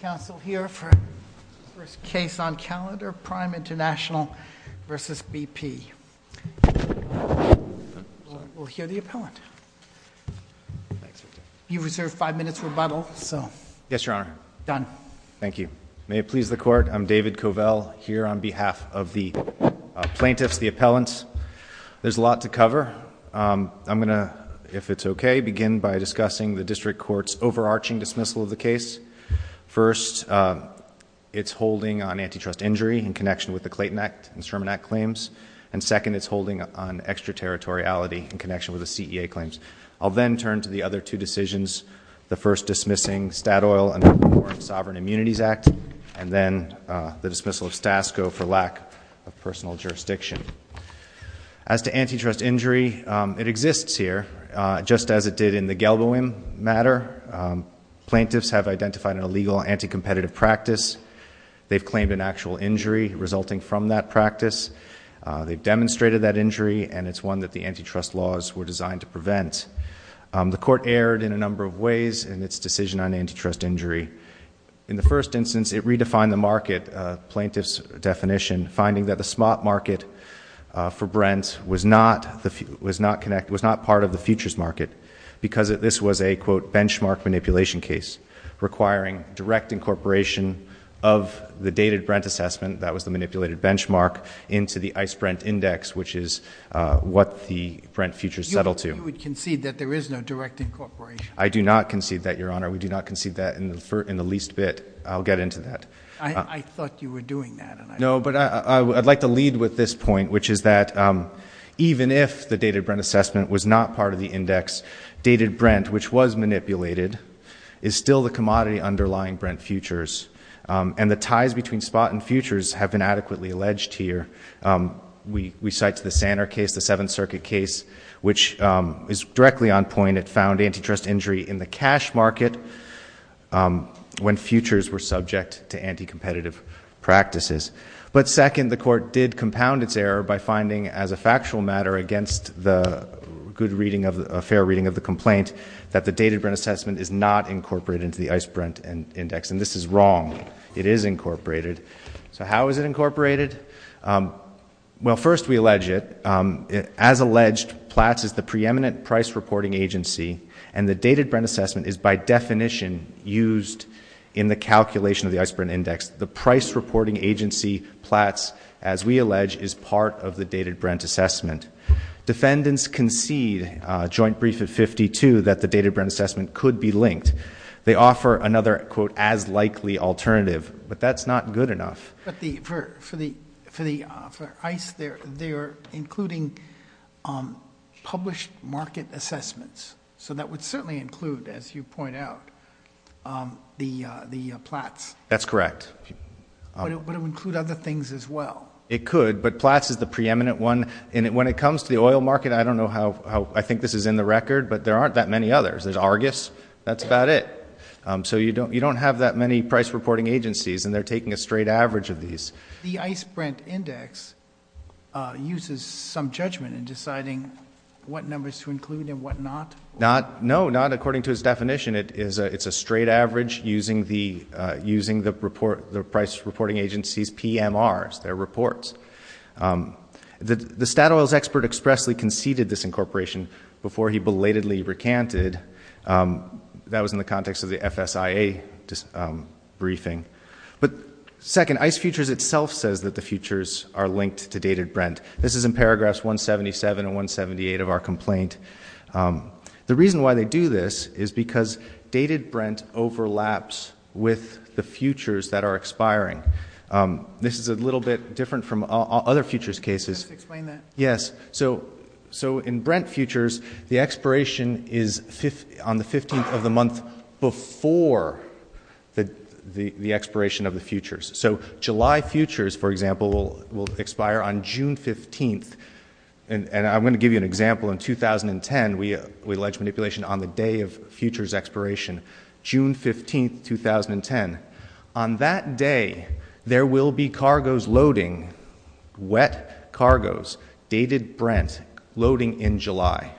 Council here for first case on calendar, Prime International versus BP. We'll hear the appellant. You reserved five minutes rebuttal so. Yes, Your Honor. Done. Thank you. May it please the court, I'm David Covell here on behalf of the plaintiffs, the appellants. There's a lot to cover. I'm gonna, if it's okay, begin by First, it's holding on antitrust injury in connection with the Clayton Act and Sherman Act claims. And second, it's holding on extraterritoriality in connection with the CEA claims. I'll then turn to the other two decisions, the first dismissing Statoil under the War on Sovereign Immunities Act and then the dismissal of Stasco for lack of personal jurisdiction. As to antitrust injury, the plaintiffs have identified an illegal anti-competitive practice. They've claimed an actual injury resulting from that practice. They've demonstrated that injury, and it's one that the antitrust laws were designed to prevent. The court erred in a number of ways in its decision on antitrust injury. In the first instance, it redefined the market, plaintiff's definition, finding that the spot market for Brent was not part of the futures market because this was a, quote, benchmark manipulation case, requiring direct incorporation of the dated Brent assessment, that was the manipulated benchmark, into the ICE-Brent index, which is what the Brent futures settle to. You would concede that there is no direct incorporation? I do not concede that, Your Honor. We do not concede that in the least bit. I'll get into that. I thought you were doing that. No, but I'd like to lead with this point, which is that even if the dated Brent assessment was not part of the index, dated Brent, which was manipulated, is still the commodity underlying Brent futures, and the ties between spot and futures have been adequately alleged here. We cite the Sanner case, the Seventh Circuit case, which is directly on point. It found antitrust injury in the cash market when futures were subject to anti-competitive practices, but second, the court did compound its error by finding, as a result, that the dated Brent assessment is not incorporated into the ICE-Brent index, and this is wrong. It is incorporated. So how is it incorporated? Well, first, we allege it. As alleged, Platts is the preeminent price reporting agency, and the dated Brent assessment is by definition used in the calculation of the ICE-Brent index. The price reporting agency, Platts, as we allege, is part of the dated Brent assessment. Defendants concede, joint brief at 52, that the dated Brent assessment could be linked. They offer another quote, as likely alternative, but that's not good enough. But for ICE, they're including published market assessments, so that would certainly include, as you point out, the Platts. That's correct. But it would include other things as well. It could, but Platts is the preeminent one. And when it comes to the oil market, I don't know how, I think this is in the record, but there aren't that many others. There's Argus. That's about it. So you don't have that many price reporting agencies, and they're taking a straight average of these. The ICE-Brent index uses some judgment in deciding what numbers to include and what not. Not, no, not according to his definition. It's a straight average using the price reporting agency's PMRs, their reports. The Statoil's expert expressly conceded this incorporation before he belatedly recanted. That was in the context of the FSIA briefing. But second, ICE Futures itself says that the futures are linked to dated Brent. This is in paragraphs 177 and 178 of our complaint. The reason why they do this is because dated Brent overlaps with the futures that are expiring. This is a little bit different from other futures cases. Can you just explain that? Yes. So in Brent futures, the expiration is on the 15th of the month before the expiration of the futures. So July futures, for example, will expire on June 15th. And I'm going to give you an example. In 2010, we alleged manipulation on the day of futures expiration, June 15th, 2010. On that day, there will be cargoes loading, wet cargoes, dated Brent, loading in July.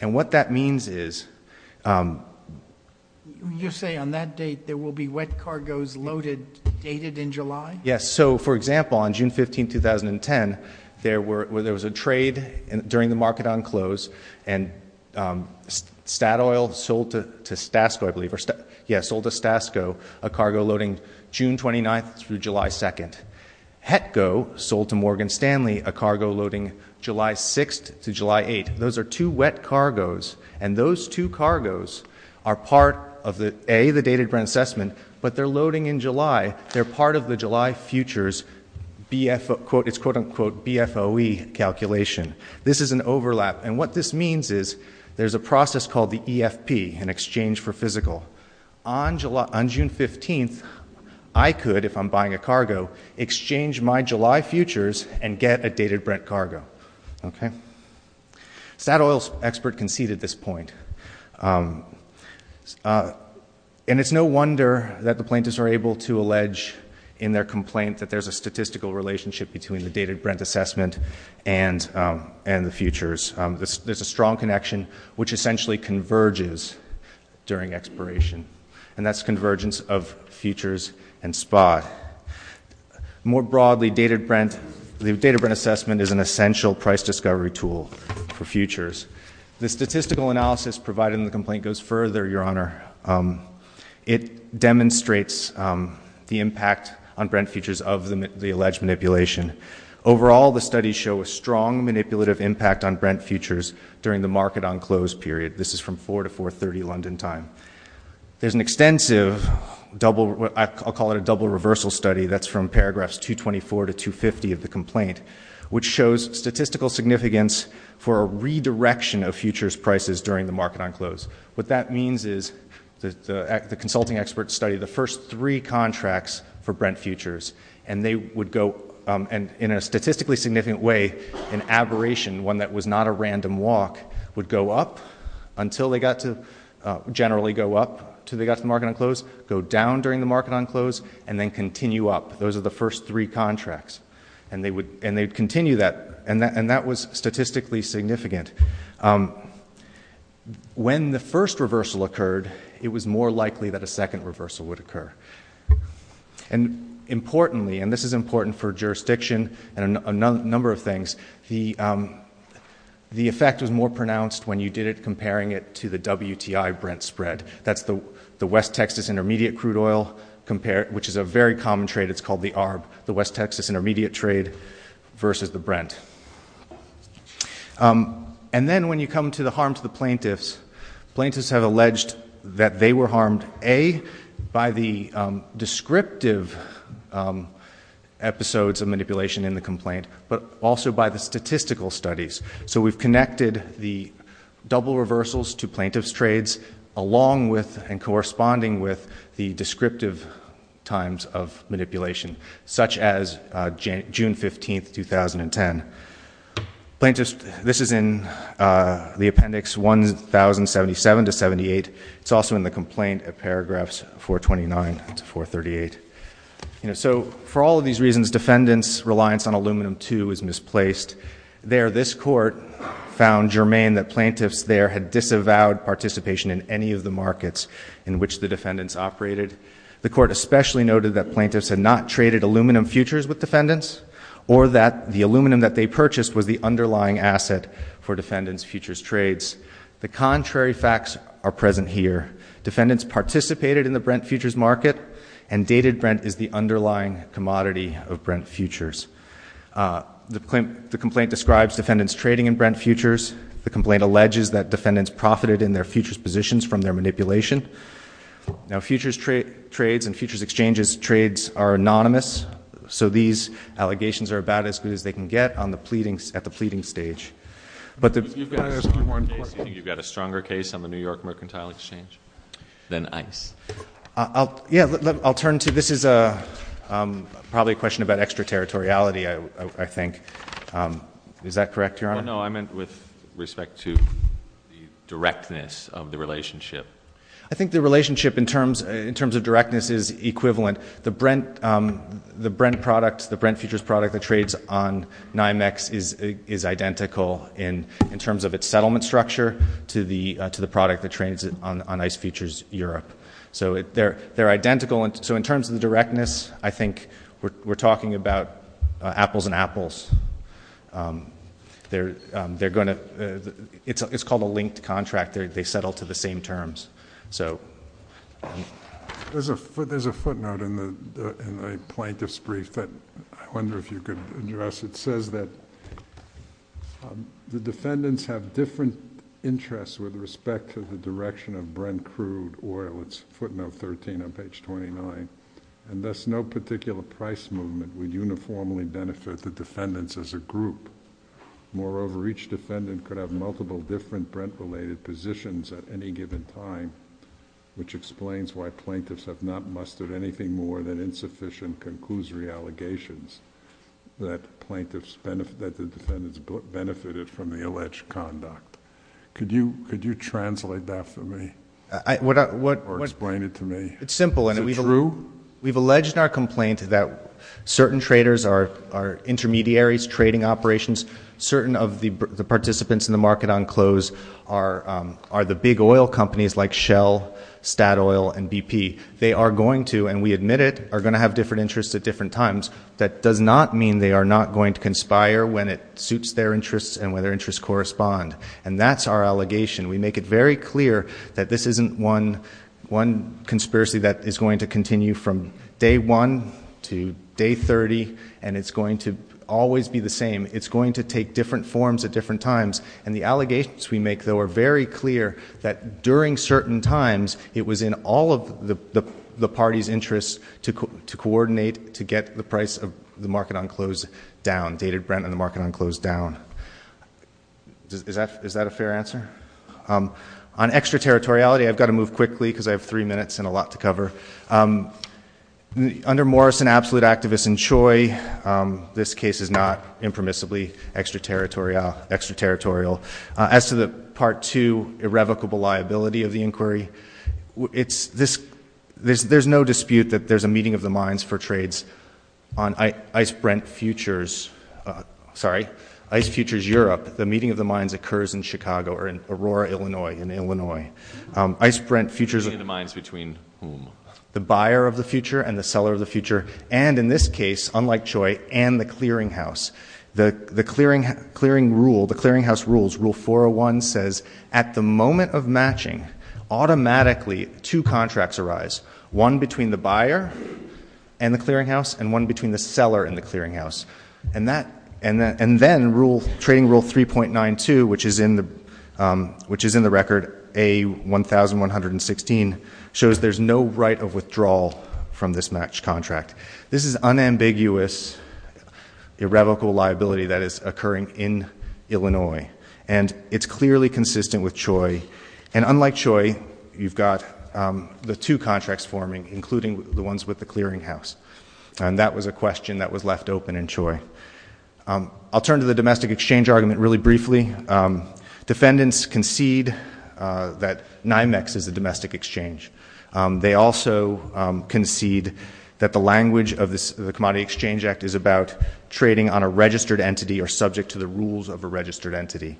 And what that means is... You're saying on that date, there will be wet cargoes loaded, dated in July? Yes. So for example, on June 15th, 2010, there was a trade during the market on close, and Statoil sold to Stasco, I believe. Yes, sold to Stasco, a cargo loading June 29th through July 2nd. Hetco sold to Morgan Stanley, a cargo loading July 6th to July 8th. Those are two wet cargoes, and those two cargoes are part of the, A, the dated Brent assessment, but they're loading in July. They're part of the July futures, it's quote unquote, BFOE calculation. This is an overlap, and what this means is, there's a process called the EFP, an exchange for physical. On June 15th, I could, if I'm buying a cargo, exchange my July futures and get a dated Brent cargo. Okay? Statoil's expert conceded this point. And it's no wonder that the plaintiffs are able to allege in their complaint that there's a statistical relationship between the dated Brent assessment and the futures. There's a strong connection which essentially converges during expiration, and that's convergence of futures and spot. More broadly, the dated Brent assessment is an essential price discovery tool for futures. The statistical analysis provided in the complaint goes further, Your Honor. It demonstrates the impact on Brent futures of the alleged manipulation. Overall, the studies show a strong manipulative impact on Brent futures during the market on close period. This is from 4 to 4.30 London time. There's an extensive double, I'll call it a double reversal study, that's from paragraphs 224 to 250 of the complaint, which shows statistical significance for a redirection of futures prices during the market on close. What that means is, the consulting expert study, the first three contracts for Brent futures, and they would go, and in a statistically significant way, an aberration, one that was not a random walk, would go up until they got to, generally go up until they got to the market on close, go down during the market on close, and then continue up. Those are the first three contracts, and they would continue that, and that was statistically significant. When the first reversal occurred, it was more likely that a second reversal would occur, and importantly, and this is important for jurisdiction and a number of things, the effect was more pronounced when you did it comparing it to the WTI Brent spread. That's the West Texas Intermediate Crude Oil, which is a very common trade, it's called the ARB, the West Texas Intermediate Trade versus the Brent. And then when you come to the harm to the plaintiffs, plaintiffs have alleged that they were harmed, A, by the descriptive episodes of manipulation in the complaint, but also by the statistical studies. So we've connected the double reversals to plaintiff's trades, along with and corresponding with the descriptive times of manipulation, such as June 15th, 2010. Plaintiffs, this is in the appendix 1077 to 78, it's also in the complaint at paragraphs 429 to 438. So for all of these reasons, defendants' reliance on aluminum two is misplaced. There, this court found germane that plaintiffs there had disavowed participation in any of the markets in which the defendants operated. The court especially noted that plaintiffs had not traded aluminum futures with defendants, or that the aluminum that they purchased was the underlying asset for defendants' futures trades. The contrary facts are present here. Defendants participated in the Brent futures market, and dated Brent is the underlying commodity of Brent futures. The complaint describes defendants trading in Brent futures. The complaint alleges that defendants profited in their futures positions from their manipulation. Now futures trades and futures exchanges trades are anonymous, so these allegations are about as good as they can get at the pleading stage. But the- You've got a stronger case on the New York Mercantile Exchange than ICE. Yeah, I'll turn to, this is probably a question about extraterritoriality, I think. Is that correct, Your Honor? No, I meant with respect to the directness of the relationship. I think the relationship in terms of directness is equivalent. The Brent product, the Brent futures product that trades on NYMEX is identical in terms of its settlement structure to the product that trades on ICE Futures Europe. So they're identical, so in terms of the directness, I think we're talking about apples and apples. It's called a linked contract, they settle to the same terms, so. There's a footnote in the plaintiff's brief that I wonder if you could address. It says that the defendants have different interests with respect to the direction of Brent crude oil. It's footnote 13 on page 29. And thus, no particular price movement would uniformly benefit the defendants as a group. Moreover, each defendant could have multiple different Brent-related positions at any given time, which explains why plaintiffs have not mustered anything more than insufficient conclusory allegations that the defendants benefited from the alleged conduct. Could you translate that for me or explain it to me? It's simple. Is it true? We've alleged in our complaint that certain traders are intermediaries, trading operations. Certain of the participants in the market on close are the big oil companies like Shell, Statoil, and BP. They are going to, and we admit it, are going to have different interests at different times. That does not mean they are not going to conspire when it suits their interests and when their interests correspond. And that's our allegation. We make it very clear that this isn't one conspiracy that is going to continue from day one to day 30. And it's going to always be the same. It's going to take different forms at different times. And the allegations we make, though, are very clear that during certain times, it was in all of the party's interest to coordinate, to get the price of the market on close down, dated Brent and the market on close down. Is that a fair answer? On extraterritoriality, I've got to move quickly because I have three minutes and a lot to cover. Under Morrison, absolute activists, and Choi, this case is not impermissibly extraterritorial. As to the part two, irrevocable liability of the inquiry, there's no dispute that there's a meeting of the minds for trades on Ice Brent Futures, sorry, Ice Futures Europe. The meeting of the minds occurs in Chicago, or in Aurora, Illinois, in Illinois. Ice Brent Futures- Meeting of the minds between whom? The buyer of the future and the seller of the future. And in this case, unlike Choi, and the clearing house. The clearing house rules, rule 401, says at the moment of matching, automatically two contracts arise, one between the buyer and the clearing house, and one between the seller and the clearing house. And then trading rule 3.92, which is in the record A1116, shows there's no right of withdrawal from this match contract. This is unambiguous, irrevocable liability that is occurring in Illinois. And it's clearly consistent with Choi. And unlike Choi, you've got the two contracts forming, including the ones with the clearing house. And that was a question that was left open in Choi. I'll turn to the domestic exchange argument really briefly. Defendants concede that NYMEX is a domestic exchange. They also concede that the language of the Commodity Exchange Act is about trading on a registered entity or subject to the rules of a registered entity.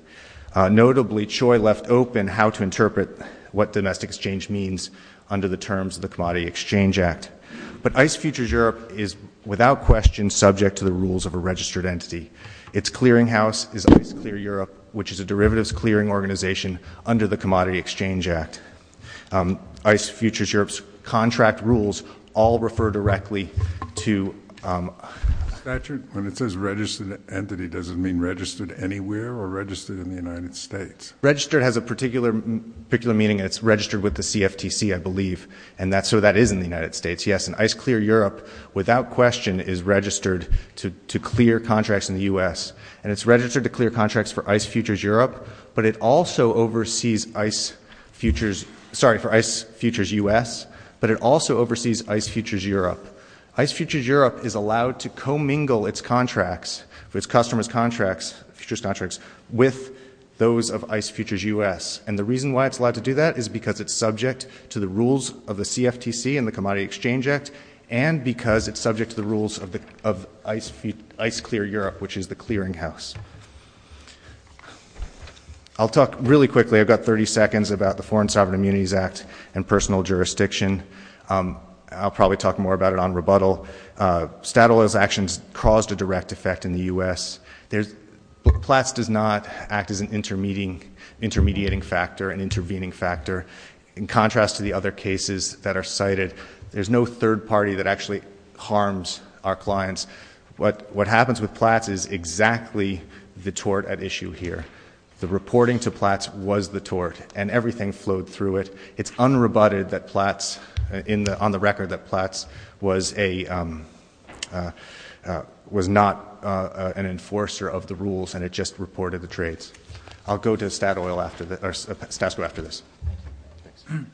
Notably, Choi left open how to interpret what domestic exchange means under the terms of the Commodity Exchange Act. But Ice Futures Europe is, without question, subject to the rules of a registered entity. Its clearing house is Ice Clear Europe, which is a derivatives clearing organization under the Commodity Exchange Act. Ice Futures Europe's contract rules all refer directly to- Statute, when it says registered entity, does it mean registered anywhere or registered in the United States? Registered has a particular meaning. It's registered with the CFTC, I believe. And so that is in the United States, yes. And Ice Clear Europe, without question, is registered to clear contracts in the US. And it's registered to clear contracts for Ice Futures Europe. But it also oversees Ice Futures, sorry, for Ice Futures US. But it also oversees Ice Futures Europe. Ice Futures Europe is allowed to co-mingle its contracts, its customers' contracts, futures contracts, with those of Ice Futures US. And the reason why it's allowed to do that is because it's subject to the rules of the CFTC and the Commodity Exchange Act, and because it's subject to the rules of Ice Clear Europe, which is the clearing house. I'll talk really quickly, I've got 30 seconds, about the Foreign Sovereign Immunities Act and personal jurisdiction. I'll probably talk more about it on rebuttal. Statoil's actions caused a direct effect in the US. PLATS does not act as an intermediating factor, an intervening factor. In contrast to the other cases that are cited, there's no third party that actually harms our clients. What happens with PLATS is exactly the tort at issue here. The reporting to PLATS was the tort, and everything flowed through it. It's unrebutted that PLATS, on the record, that PLATS was not an enforcer of the rules, and it just reported the trades. I'll go to Statoil after this, or Stasco after this. Thanks.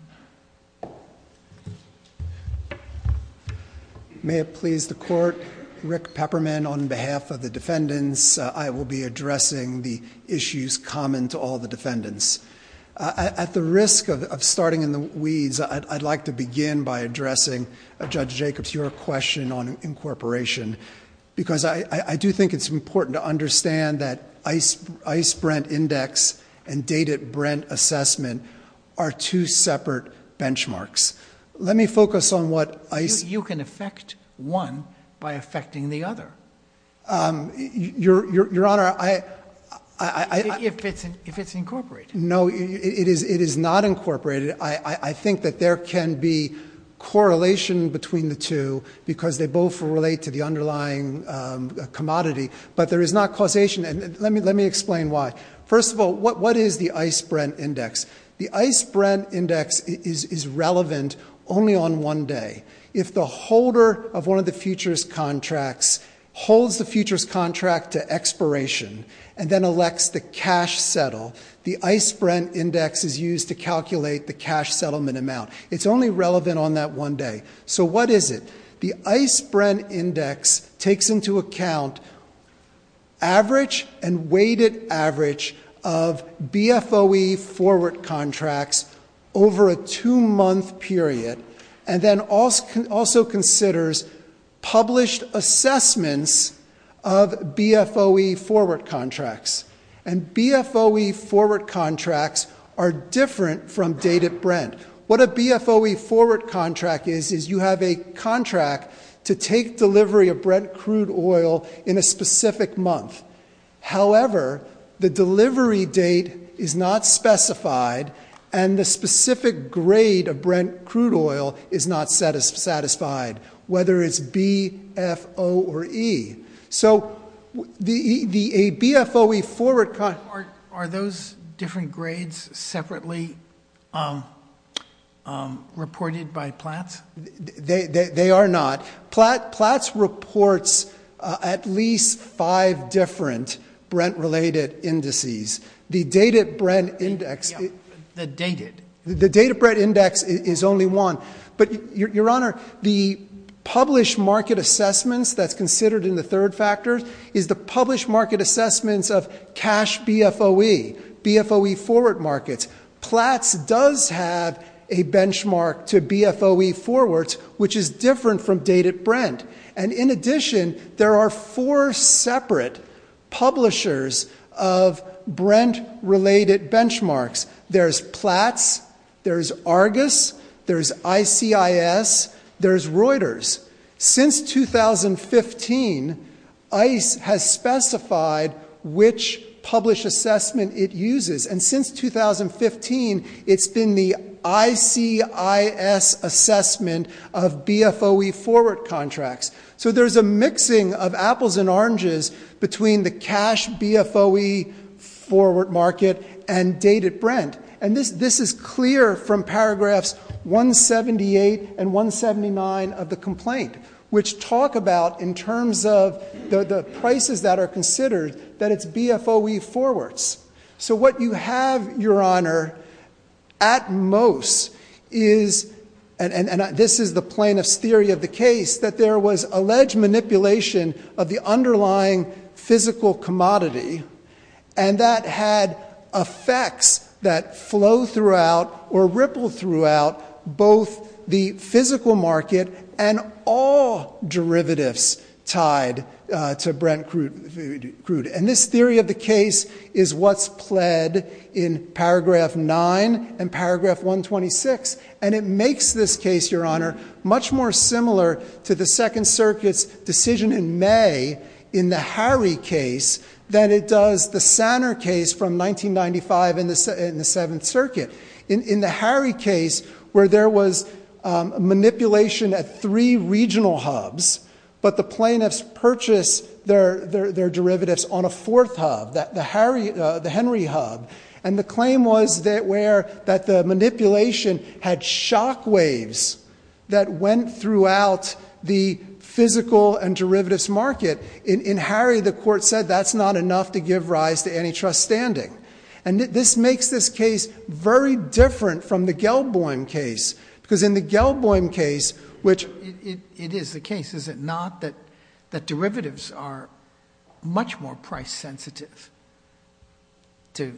May it please the court, Rick Pepperman on behalf of the defendants. I will be addressing the issues common to all the defendants. At the risk of starting in the weeds, I'd like to begin by addressing Judge Jacobs, your question on incorporation, because I do think it's important to understand that the ICE-Brent index and dated Brent assessment are two separate benchmarks. Let me focus on what ICE- You can affect one by affecting the other. Your Honor, I- If it's incorporated. No, it is not incorporated. I think that there can be correlation between the two, because they both relate to the underlying commodity, but there is not causation. Let me explain why. First of all, what is the ICE-Brent index? The ICE-Brent index is relevant only on one day. If the holder of one of the futures contracts holds the futures contract to expiration and then elects the cash settle, the ICE-Brent index is used to calculate the cash settlement amount. It's only relevant on that one day. So what is it? The ICE-Brent index takes into account average and weighted average of BFOE forward contracts over a two month period. And then also considers published assessments of BFOE forward contracts. And BFOE forward contracts are different from dated Brent. What a BFOE forward contract is, is you have a contract to take delivery of Brent crude oil in a specific month. However, the delivery date is not specified and the specific grade of Brent crude oil is not satisfied, whether it's B, F, O, or E. So a BFOE forward contract- Are those different grades separately reported by Platts? They are not. Platts reports at least five different Brent-related indices. The dated Brent index- The dated. The dated Brent index is only one. But your honor, the published market assessments that's considered in the third factor is the published market assessments of cash BFOE, BFOE forward markets. Platts does have a benchmark to BFOE forwards, which is different from dated Brent. And in addition, there are four separate publishers of Brent-related benchmarks. There's Platts, there's Argus, there's ICIS, there's Reuters. Since 2015, ICE has specified which published assessment it uses. And since 2015, it's been the ICIS assessment of BFOE forward contracts. So there's a mixing of apples and oranges between the cash BFOE forward market and dated Brent. And this is clear from paragraphs 178 and 179 of the complaint, which talk about, in terms of the prices that are considered, that it's BFOE forwards. So what you have, your honor, at most is, and this is the plaintiff's theory of the case, that there was alleged manipulation of the underlying physical commodity. And that had effects that flow throughout or ripple throughout both the physical market and all derivatives tied to Brent crude. And this theory of the case is what's pled in paragraph nine and paragraph 126. And it makes this case, your honor, much more similar to the Second Circuit's decision in May in the Harry case than it does the Sanner case from 1995 in the Seventh Circuit. In the Harry case, where there was manipulation at three regional hubs, but the plaintiffs purchased their derivatives on a fourth hub, the Henry hub. And the claim was that the manipulation had shockwaves that went throughout the physical and derivatives market. In Harry, the court said that's not enough to give rise to antitrust standing. And this makes this case very different from the Gelboim case. Because in the Gelboim case, which- It is the case, is it not, that derivatives are much more price sensitive to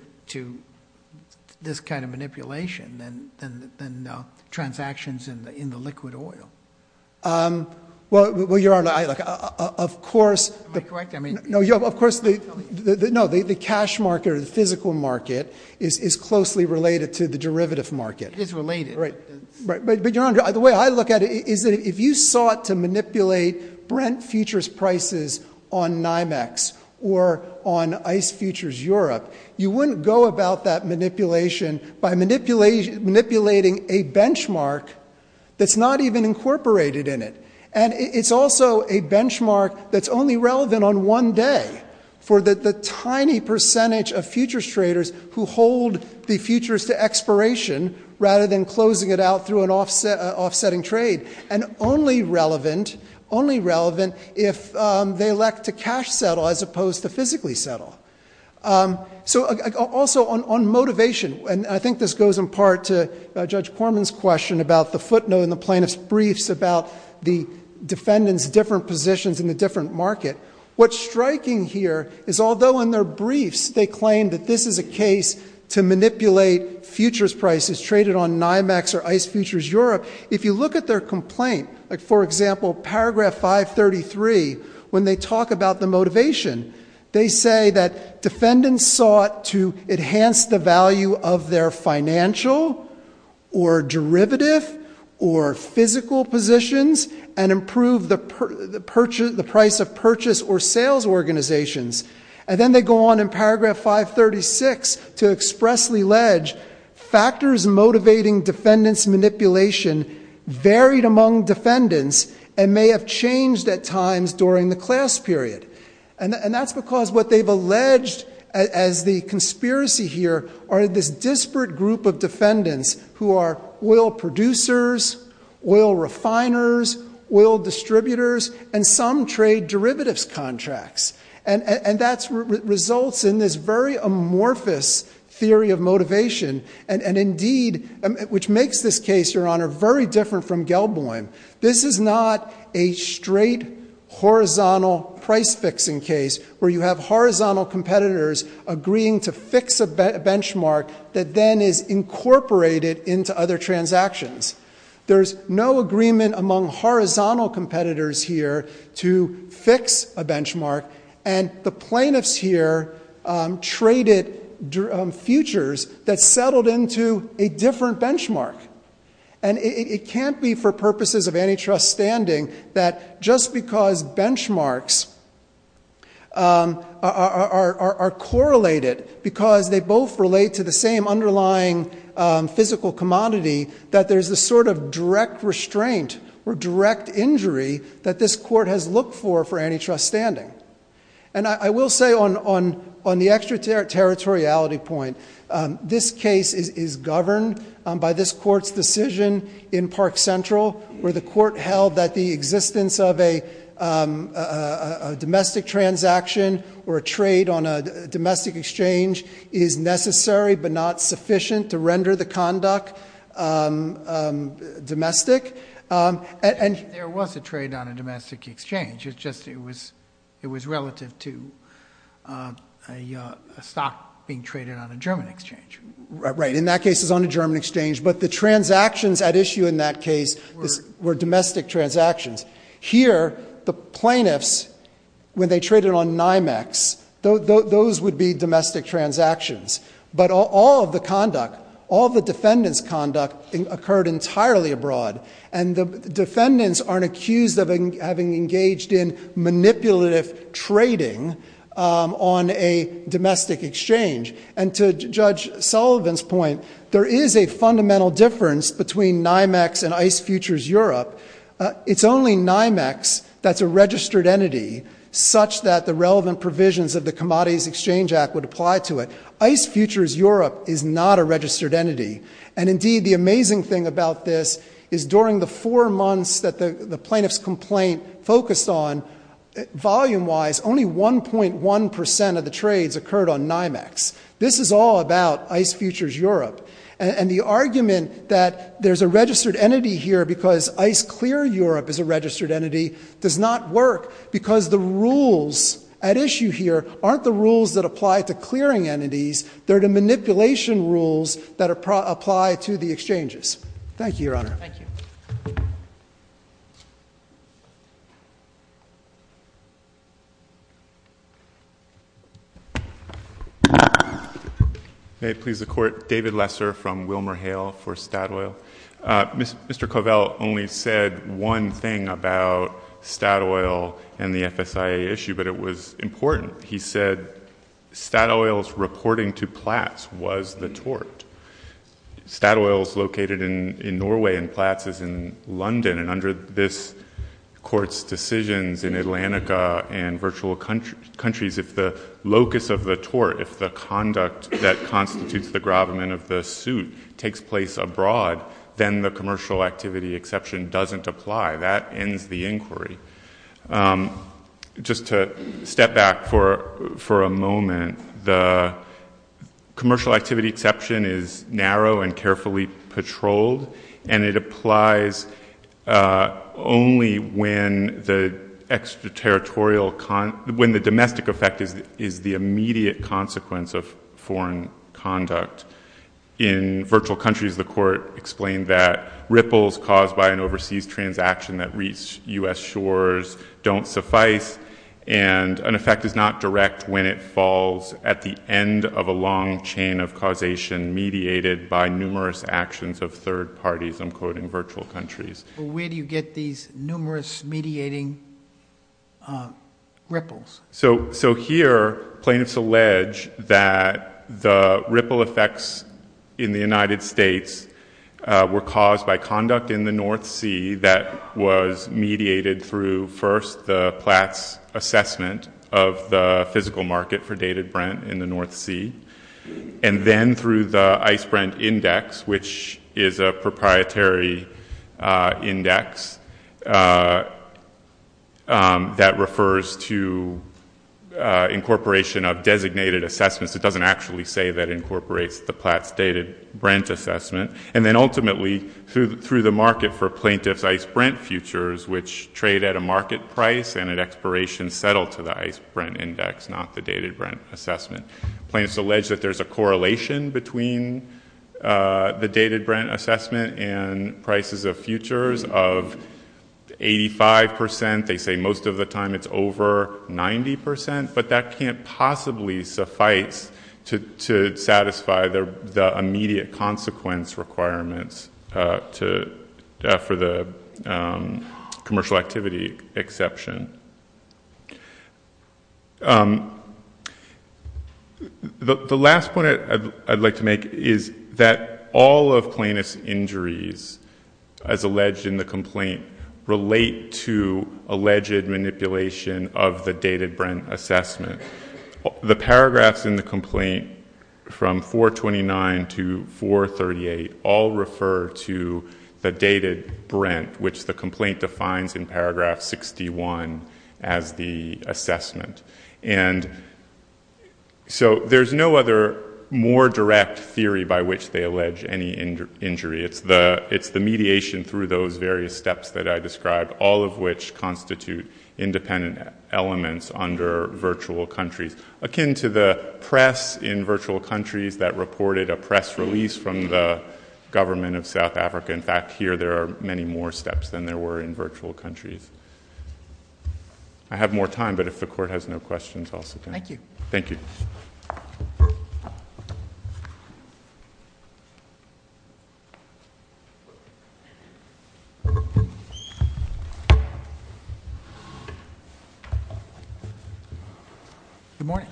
this kind of manipulation than transactions in the liquid oil? Well, your honor, of course- Am I correct? I mean- No, of course the cash market or the physical market is closely related to the derivative market. It is related. Right, but your honor, the way I look at it is that if you sought to manipulate Brent Futures prices on NYMEX or on ICE Futures Europe, you wouldn't go about that manipulation by manipulating a benchmark that's not even incorporated in it. And it's also a benchmark that's only relevant on one day for the tiny percentage of futures traders who hold the futures to expiration rather than closing it out through an offsetting trade. And only relevant, only relevant if they elect to cash settle as opposed to physically settle. So also on motivation, and I think this goes in part to Judge Corman's question about the footnote in the plaintiff's briefs about the defendant's different positions in the different market. What's striking here is although in their briefs they claim that this is a case to manipulate futures prices traded on NYMEX or ICE Futures Europe. If you look at their complaint, for example, paragraph 533, when they talk about the motivation. They say that defendants sought to enhance the value of their financial or derivative or physical positions and improve the price of purchase or sales organizations. And then they go on in paragraph 536 to expressly ledge factors motivating defendants manipulation varied among defendants and may have changed at times during the class period. And that's because what they've alleged as the conspiracy here are this disparate group of defendants who are oil producers, oil refiners, oil distributors, and some trade derivatives contracts. And that results in this very amorphous theory of motivation. And indeed, which makes this case, Your Honor, very different from Gelboim. This is not a straight horizontal price fixing case, where you have horizontal competitors agreeing to fix a benchmark that then is incorporated into other transactions. There's no agreement among horizontal competitors here to fix a benchmark. And the plaintiffs here traded futures that settled into a different benchmark. And it can't be for purposes of antitrust standing that just because benchmarks are correlated because they both relate to the same underlying physical commodity that there's a sort of direct restraint or direct injury that this court has looked for antitrust standing. And I will say on the extraterritoriality point, this case is governed by this court's decision in Park Central, where the court held that the existence of a domestic transaction or a trade on a domestic exchange is necessary but not sufficient to render the conduct domestic. And- There was a trade on a domestic exchange. It's just it was relative to a stock being traded on a German exchange. Right, in that case, it's on a German exchange. But the transactions at issue in that case were domestic transactions. Here, the plaintiffs, when they traded on NYMEX, those would be domestic transactions. But all of the conduct, all the defendant's conduct occurred entirely abroad. And the defendants aren't accused of having engaged in manipulative trading on a domestic exchange. And to Judge Sullivan's point, there is a fundamental difference between NYMEX and ICE Futures Europe. It's only NYMEX that's a registered entity, such that the relevant provisions of the Commodities Exchange Act would apply to it. ICE Futures Europe is not a registered entity. And indeed, the amazing thing about this is during the four months that the plaintiff's complaint focused on, volume wise, only 1.1% of the trades occurred on NYMEX. This is all about ICE Futures Europe. And the argument that there's a registered entity here because ICE Clear Europe is a registered entity does not work. Because the rules at issue here aren't the rules that apply to clearing entities, they're the manipulation rules that apply to the exchanges. Thank you, Your Honor. Thank you. May it please the court. David Lesser from WilmerHale for Statoil. Mr. Covell only said one thing about Statoil and the FSIA issue, but it was important. He said, Statoil's reporting to Platts was the tort. Statoil is located in Norway and Platts is in London. And under this court's decisions in Atlantica and virtual countries, if the locus of the tort, if the conduct that constitutes the grabment of the suit, takes place abroad, then the commercial activity exception doesn't apply. That ends the inquiry. Just to step back for a moment, the commercial activity exception is narrow and carefully patrolled. And it applies only when the extra-territorial, when the domestic effect is the immediate consequence of foreign conduct. In virtual countries, the court explained that ripples caused by an overseas transaction that reach US shores don't suffice. And an effect is not direct when it falls at the end of a long chain of causation mediated by numerous actions of third parties, I'm quoting virtual countries. But where do you get these numerous mediating ripples? So here, plaintiffs allege that the ripple effects in the United States were caused by conduct in the North Sea that was mediated through, first, the Platt's assessment of the physical market for dated Brent in the North Sea. And then through the Ice Brent Index, which is a proprietary index that refers to incorporation of designated assessments. It doesn't actually say that incorporates the Platt's dated Brent assessment. And then ultimately, through the market for plaintiff's Ice Brent futures, which trade at a market price and an expiration settled to the Ice Brent Index, not the dated Brent assessment. Plaintiffs allege that there's a correlation between the dated Brent assessment and prices of futures of 85%, they say most of the time it's over 90%. But that can't possibly suffice to satisfy the immediate consequence requirements for the commercial activity exception. The last point I'd like to make is that all of plaintiff's injuries, as alleged in the complaint, relate to alleged manipulation of the dated Brent assessment. The paragraphs in the complaint from 429 to 438 all refer to the dated Brent, which the complaint defines in paragraph 61 as the assessment. And so there's no other more direct theory by which they allege any injury. It's the mediation through those various steps that I described, all of which constitute independent elements under virtual countries. Akin to the press in virtual countries that reported a press release from the government of South Africa. In fact, here there are many more steps than there were in virtual countries. I have more time, but if the court has no questions, I'll sit down. Thank you. Thank you. Good morning.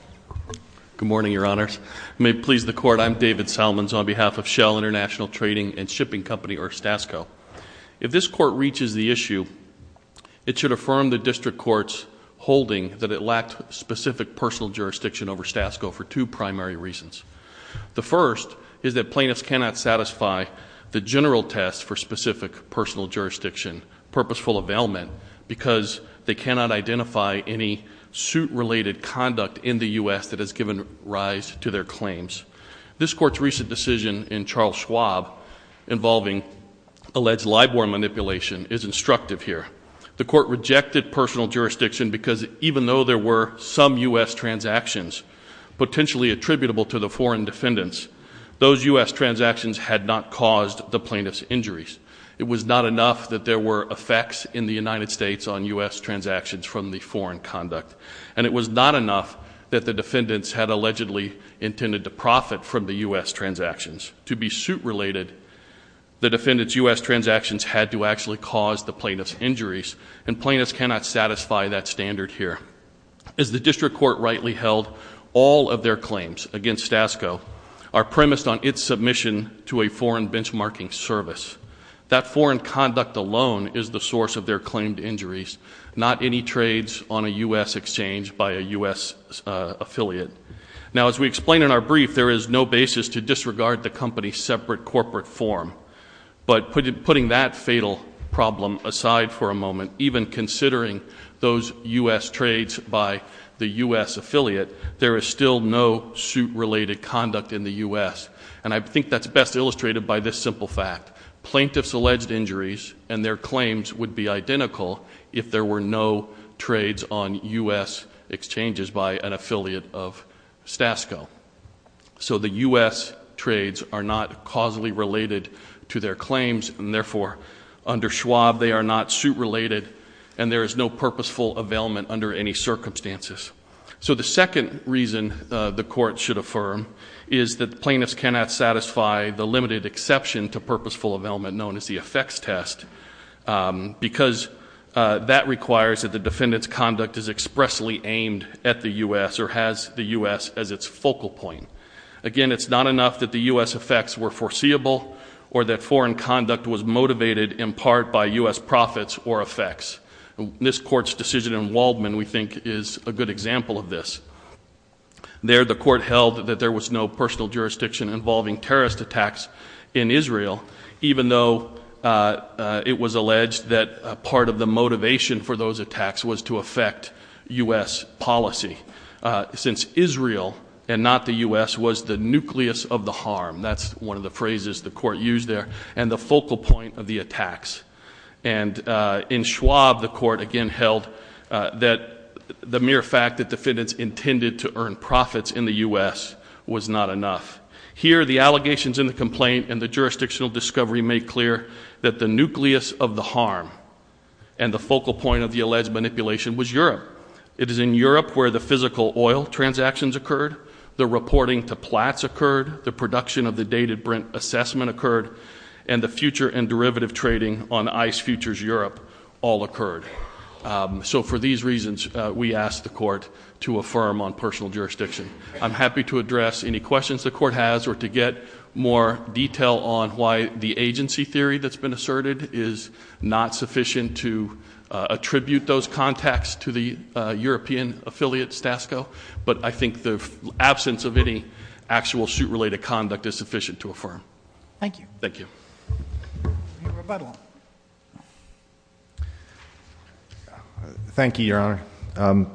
Good morning, your honors. May it please the court, I'm David Salmons on behalf of Shell International Trading and Shipping Company, or Stasco. If this court reaches the issue, it should affirm the district court's holding that it lacked specific personal jurisdiction over Stasco for two primary reasons. The first is that plaintiffs cannot satisfy the general test for specific personal jurisdiction, purposeful availment, because they cannot identify any suit related conduct in the US that has given rise to their claims. This court's recent decision in Charles Schwab involving alleged LIBOR manipulation is instructive here. The court rejected personal jurisdiction because even though there were some US transactions potentially attributable to the foreign defendants, those US transactions had not caused the plaintiff's injuries. It was not enough that there were effects in the United States on US transactions from the foreign conduct. And it was not enough that the defendants had allegedly intended to profit from the US transactions. To be suit related, the defendants US transactions had to actually cause the plaintiff's injuries. And plaintiffs cannot satisfy that standard here. As the district court rightly held, all of their claims against Stasco are premised on its submission to a foreign benchmarking service. That foreign conduct alone is the source of their claimed injuries, not any trades on a US exchange by a US affiliate. Now as we explain in our brief, there is no basis to disregard the company's separate corporate form. But putting that fatal problem aside for a moment, even considering those US trades by the US affiliate, there is still no suit related conduct in the US, and I think that's best illustrated by this simple fact. Plaintiff's alleged injuries and their claims would be identical if there were no trades on US exchanges by an affiliate of Stasco. So the US trades are not causally related to their claims, and therefore, under Schwab, they are not suit related, and there is no purposeful availment under any circumstances. So the second reason the court should affirm is that plaintiffs cannot satisfy the limited exception to purposeful availment known as the effects test because that requires that the defendant's conduct is expressly aimed at the US or has the US as its focal point. Again, it's not enough that the US effects were foreseeable or that foreign conduct was motivated in part by US profits or effects. This court's decision in Waldman, we think, is a good example of this. There, the court held that there was no personal jurisdiction involving terrorist attacks in Israel, even though it was alleged that part of the motivation for those attacks was to affect US policy. Since Israel and not the US was the nucleus of the harm, that's one of the phrases the court used there, and the focal point of the attacks. And in Schwab, the court again held that the mere fact that defendants intended to earn profits in the US was not enough. Here, the allegations in the complaint and the jurisdictional discovery make clear that the nucleus of the harm and the focal point of the alleged manipulation was Europe. It is in Europe where the physical oil transactions occurred, the reporting to Platts occurred, the production of the dated Brent assessment occurred, and the future and derivative trading on ICE Futures Europe all occurred. So for these reasons, we ask the court to affirm on personal jurisdiction. I'm happy to address any questions the court has or to get more detail on why the agency theory that's been asserted is not sufficient to attribute those contacts to the European affiliate, Stasco. But I think the absence of any actual suit-related conduct is sufficient to affirm. Thank you. Thank you. Thank you, your honor.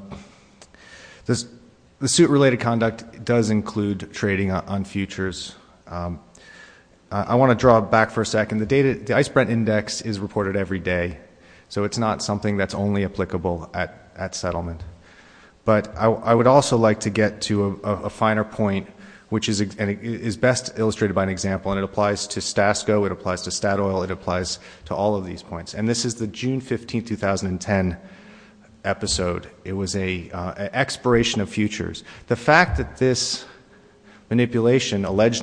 The suit-related conduct does include trading on futures. I want to draw back for a second. The ICE Brent index is reported every day. So it's not something that's only applicable at settlement. But I would also like to get to a finer point, which is best illustrated by an example. And it applies to Stasco, it applies to Statoil, it applies to all of these points. And this is the June 15th, 2010 episode. It was an expiration of futures. The fact that this alleged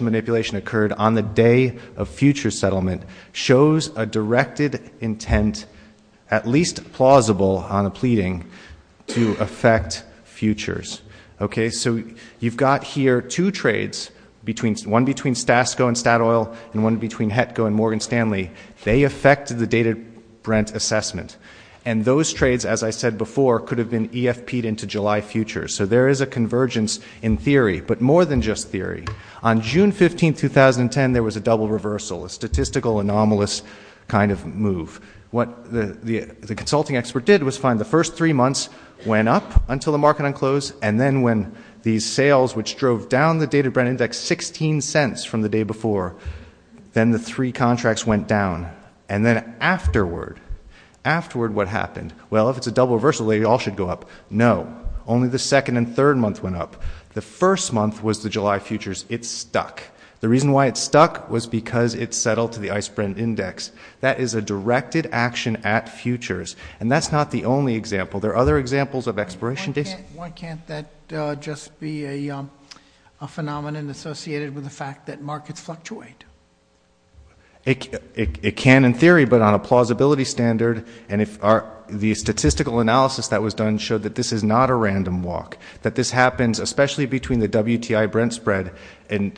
manipulation occurred on the day of future settlement shows a directed intent, at least plausible on a pleading, to affect futures. Okay, so you've got here two trades, one between Stasco and Statoil, and one between Hetco and Morgan Stanley. They affected the data Brent assessment. And those trades, as I said before, could have been EFP'd into July futures. So there is a convergence in theory, but more than just theory. On June 15th, 2010, there was a double reversal, a statistical anomalous kind of move. What the consulting expert did was find the first three months went up until the market unclosed. And then when these sales, which drove down the data Brent index 16 cents from the day before. Then the three contracts went down. And then afterward, afterward what happened? Well, if it's a double reversal, they all should go up. No, only the second and third month went up. The first month was the July futures. It stuck. The reason why it stuck was because it settled to the ICE Brent index. That is a directed action at futures. And that's not the only example. There are other examples of expiration dates. Why can't that just be a phenomenon associated with the fact that markets fluctuate? It can in theory, but on a plausibility standard. And if the statistical analysis that was done showed that this is not a random walk. That this happens especially between the WTI Brent spread in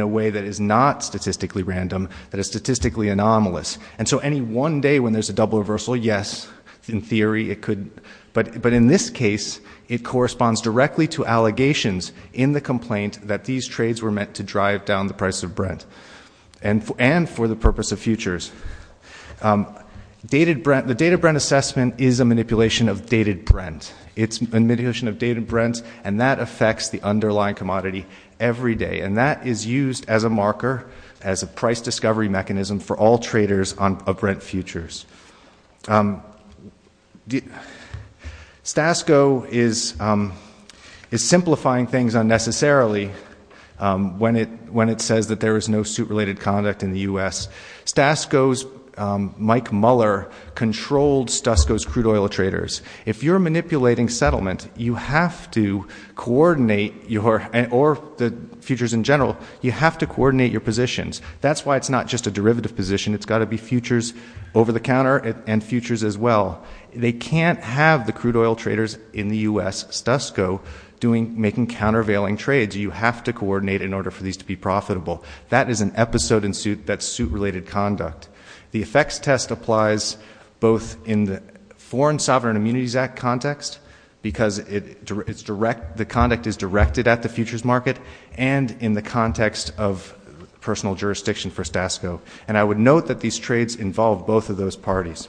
a way that is not statistically random, that is statistically anomalous. And so any one day when there's a double reversal, yes, in theory it could. But in this case, it corresponds directly to allegations in the complaint that these trades were meant to drive down the price of Brent. And for the purpose of futures. The data Brent assessment is a manipulation of dated Brent. It's a manipulation of dated Brent, and that affects the underlying commodity every day. And that is used as a marker, as a price discovery mechanism for all traders of Brent futures. Stasco is simplifying things unnecessarily when it says that there is no suit related conduct in the US. Stasco's Mike Muller controlled Stasco's crude oil traders. If you're manipulating settlement, you have to coordinate your, or the futures in general, you have to coordinate your positions. That's why it's not just a derivative position, it's got to be futures over the counter and futures as well. They can't have the crude oil traders in the US, Stasco, making countervailing trades. You have to coordinate in order for these to be profitable. That is an episode in suit that's suit related conduct. The effects test applies both in the Foreign Sovereign Immunities Act context, because the conduct is directed at the futures market and in the context of personal jurisdiction for Stasco. And I would note that these trades involve both of those parties.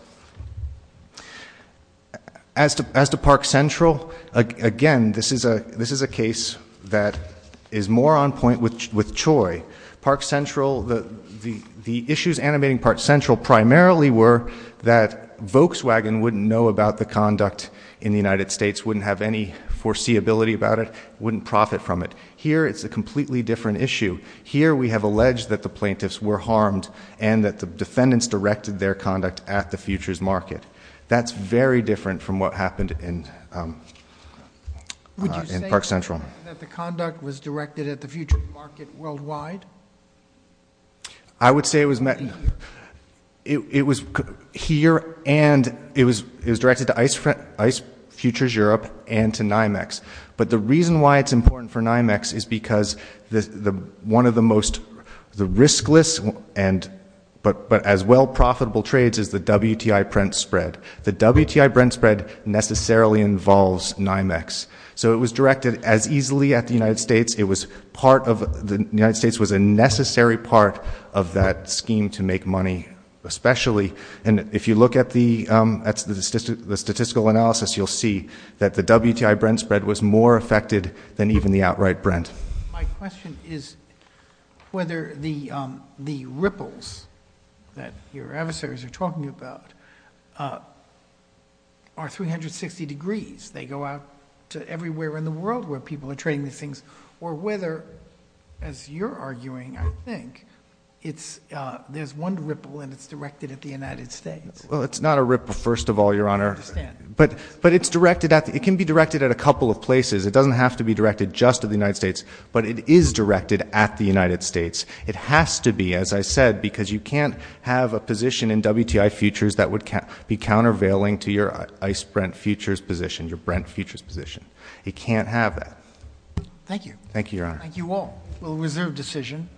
As to Park Central, again, this is a case that is more on point with Choi. Park Central, the issues animating Park Central primarily were that Volkswagen wouldn't know about the conduct in the United States, wouldn't have any foreseeability about it, wouldn't profit from it. Here it's a completely different issue. Here we have alleged that the plaintiffs were harmed and that the defendants directed their conduct at the futures market. That's very different from what happened in Park Central. That the conduct was directed at the futures market worldwide? I would say it was here and it was directed to ICE Futures Europe and to NYMEX. But the reason why it's important for NYMEX is because one of the most, the riskless but as well profitable trades is the WTI Brent spread. The WTI Brent spread necessarily involves NYMEX. So it was directed as easily at the United States. It was part of, the United States was a necessary part of that scheme to make money, especially. And if you look at the statistical analysis, you'll see that the WTI Brent spread was more affected than even the outright Brent. My question is whether the ripples that your adversaries are talking about are 360 degrees, they go out to everywhere in the world where people are trading these things. Or whether, as you're arguing, I think, there's one ripple and it's directed at the United States. Well, it's not a ripple, first of all, Your Honor. I understand. But it's directed at, it can be directed at a couple of places. It doesn't have to be directed just at the United States, but it is directed at the United States. It has to be, as I said, because you can't have a position in WTI Futures that would be countervailing to your ICE Brent Futures position, your Brent Futures position. It can't have that. Thank you. Thank you, Your Honor. Thank you all. We'll reserve decision.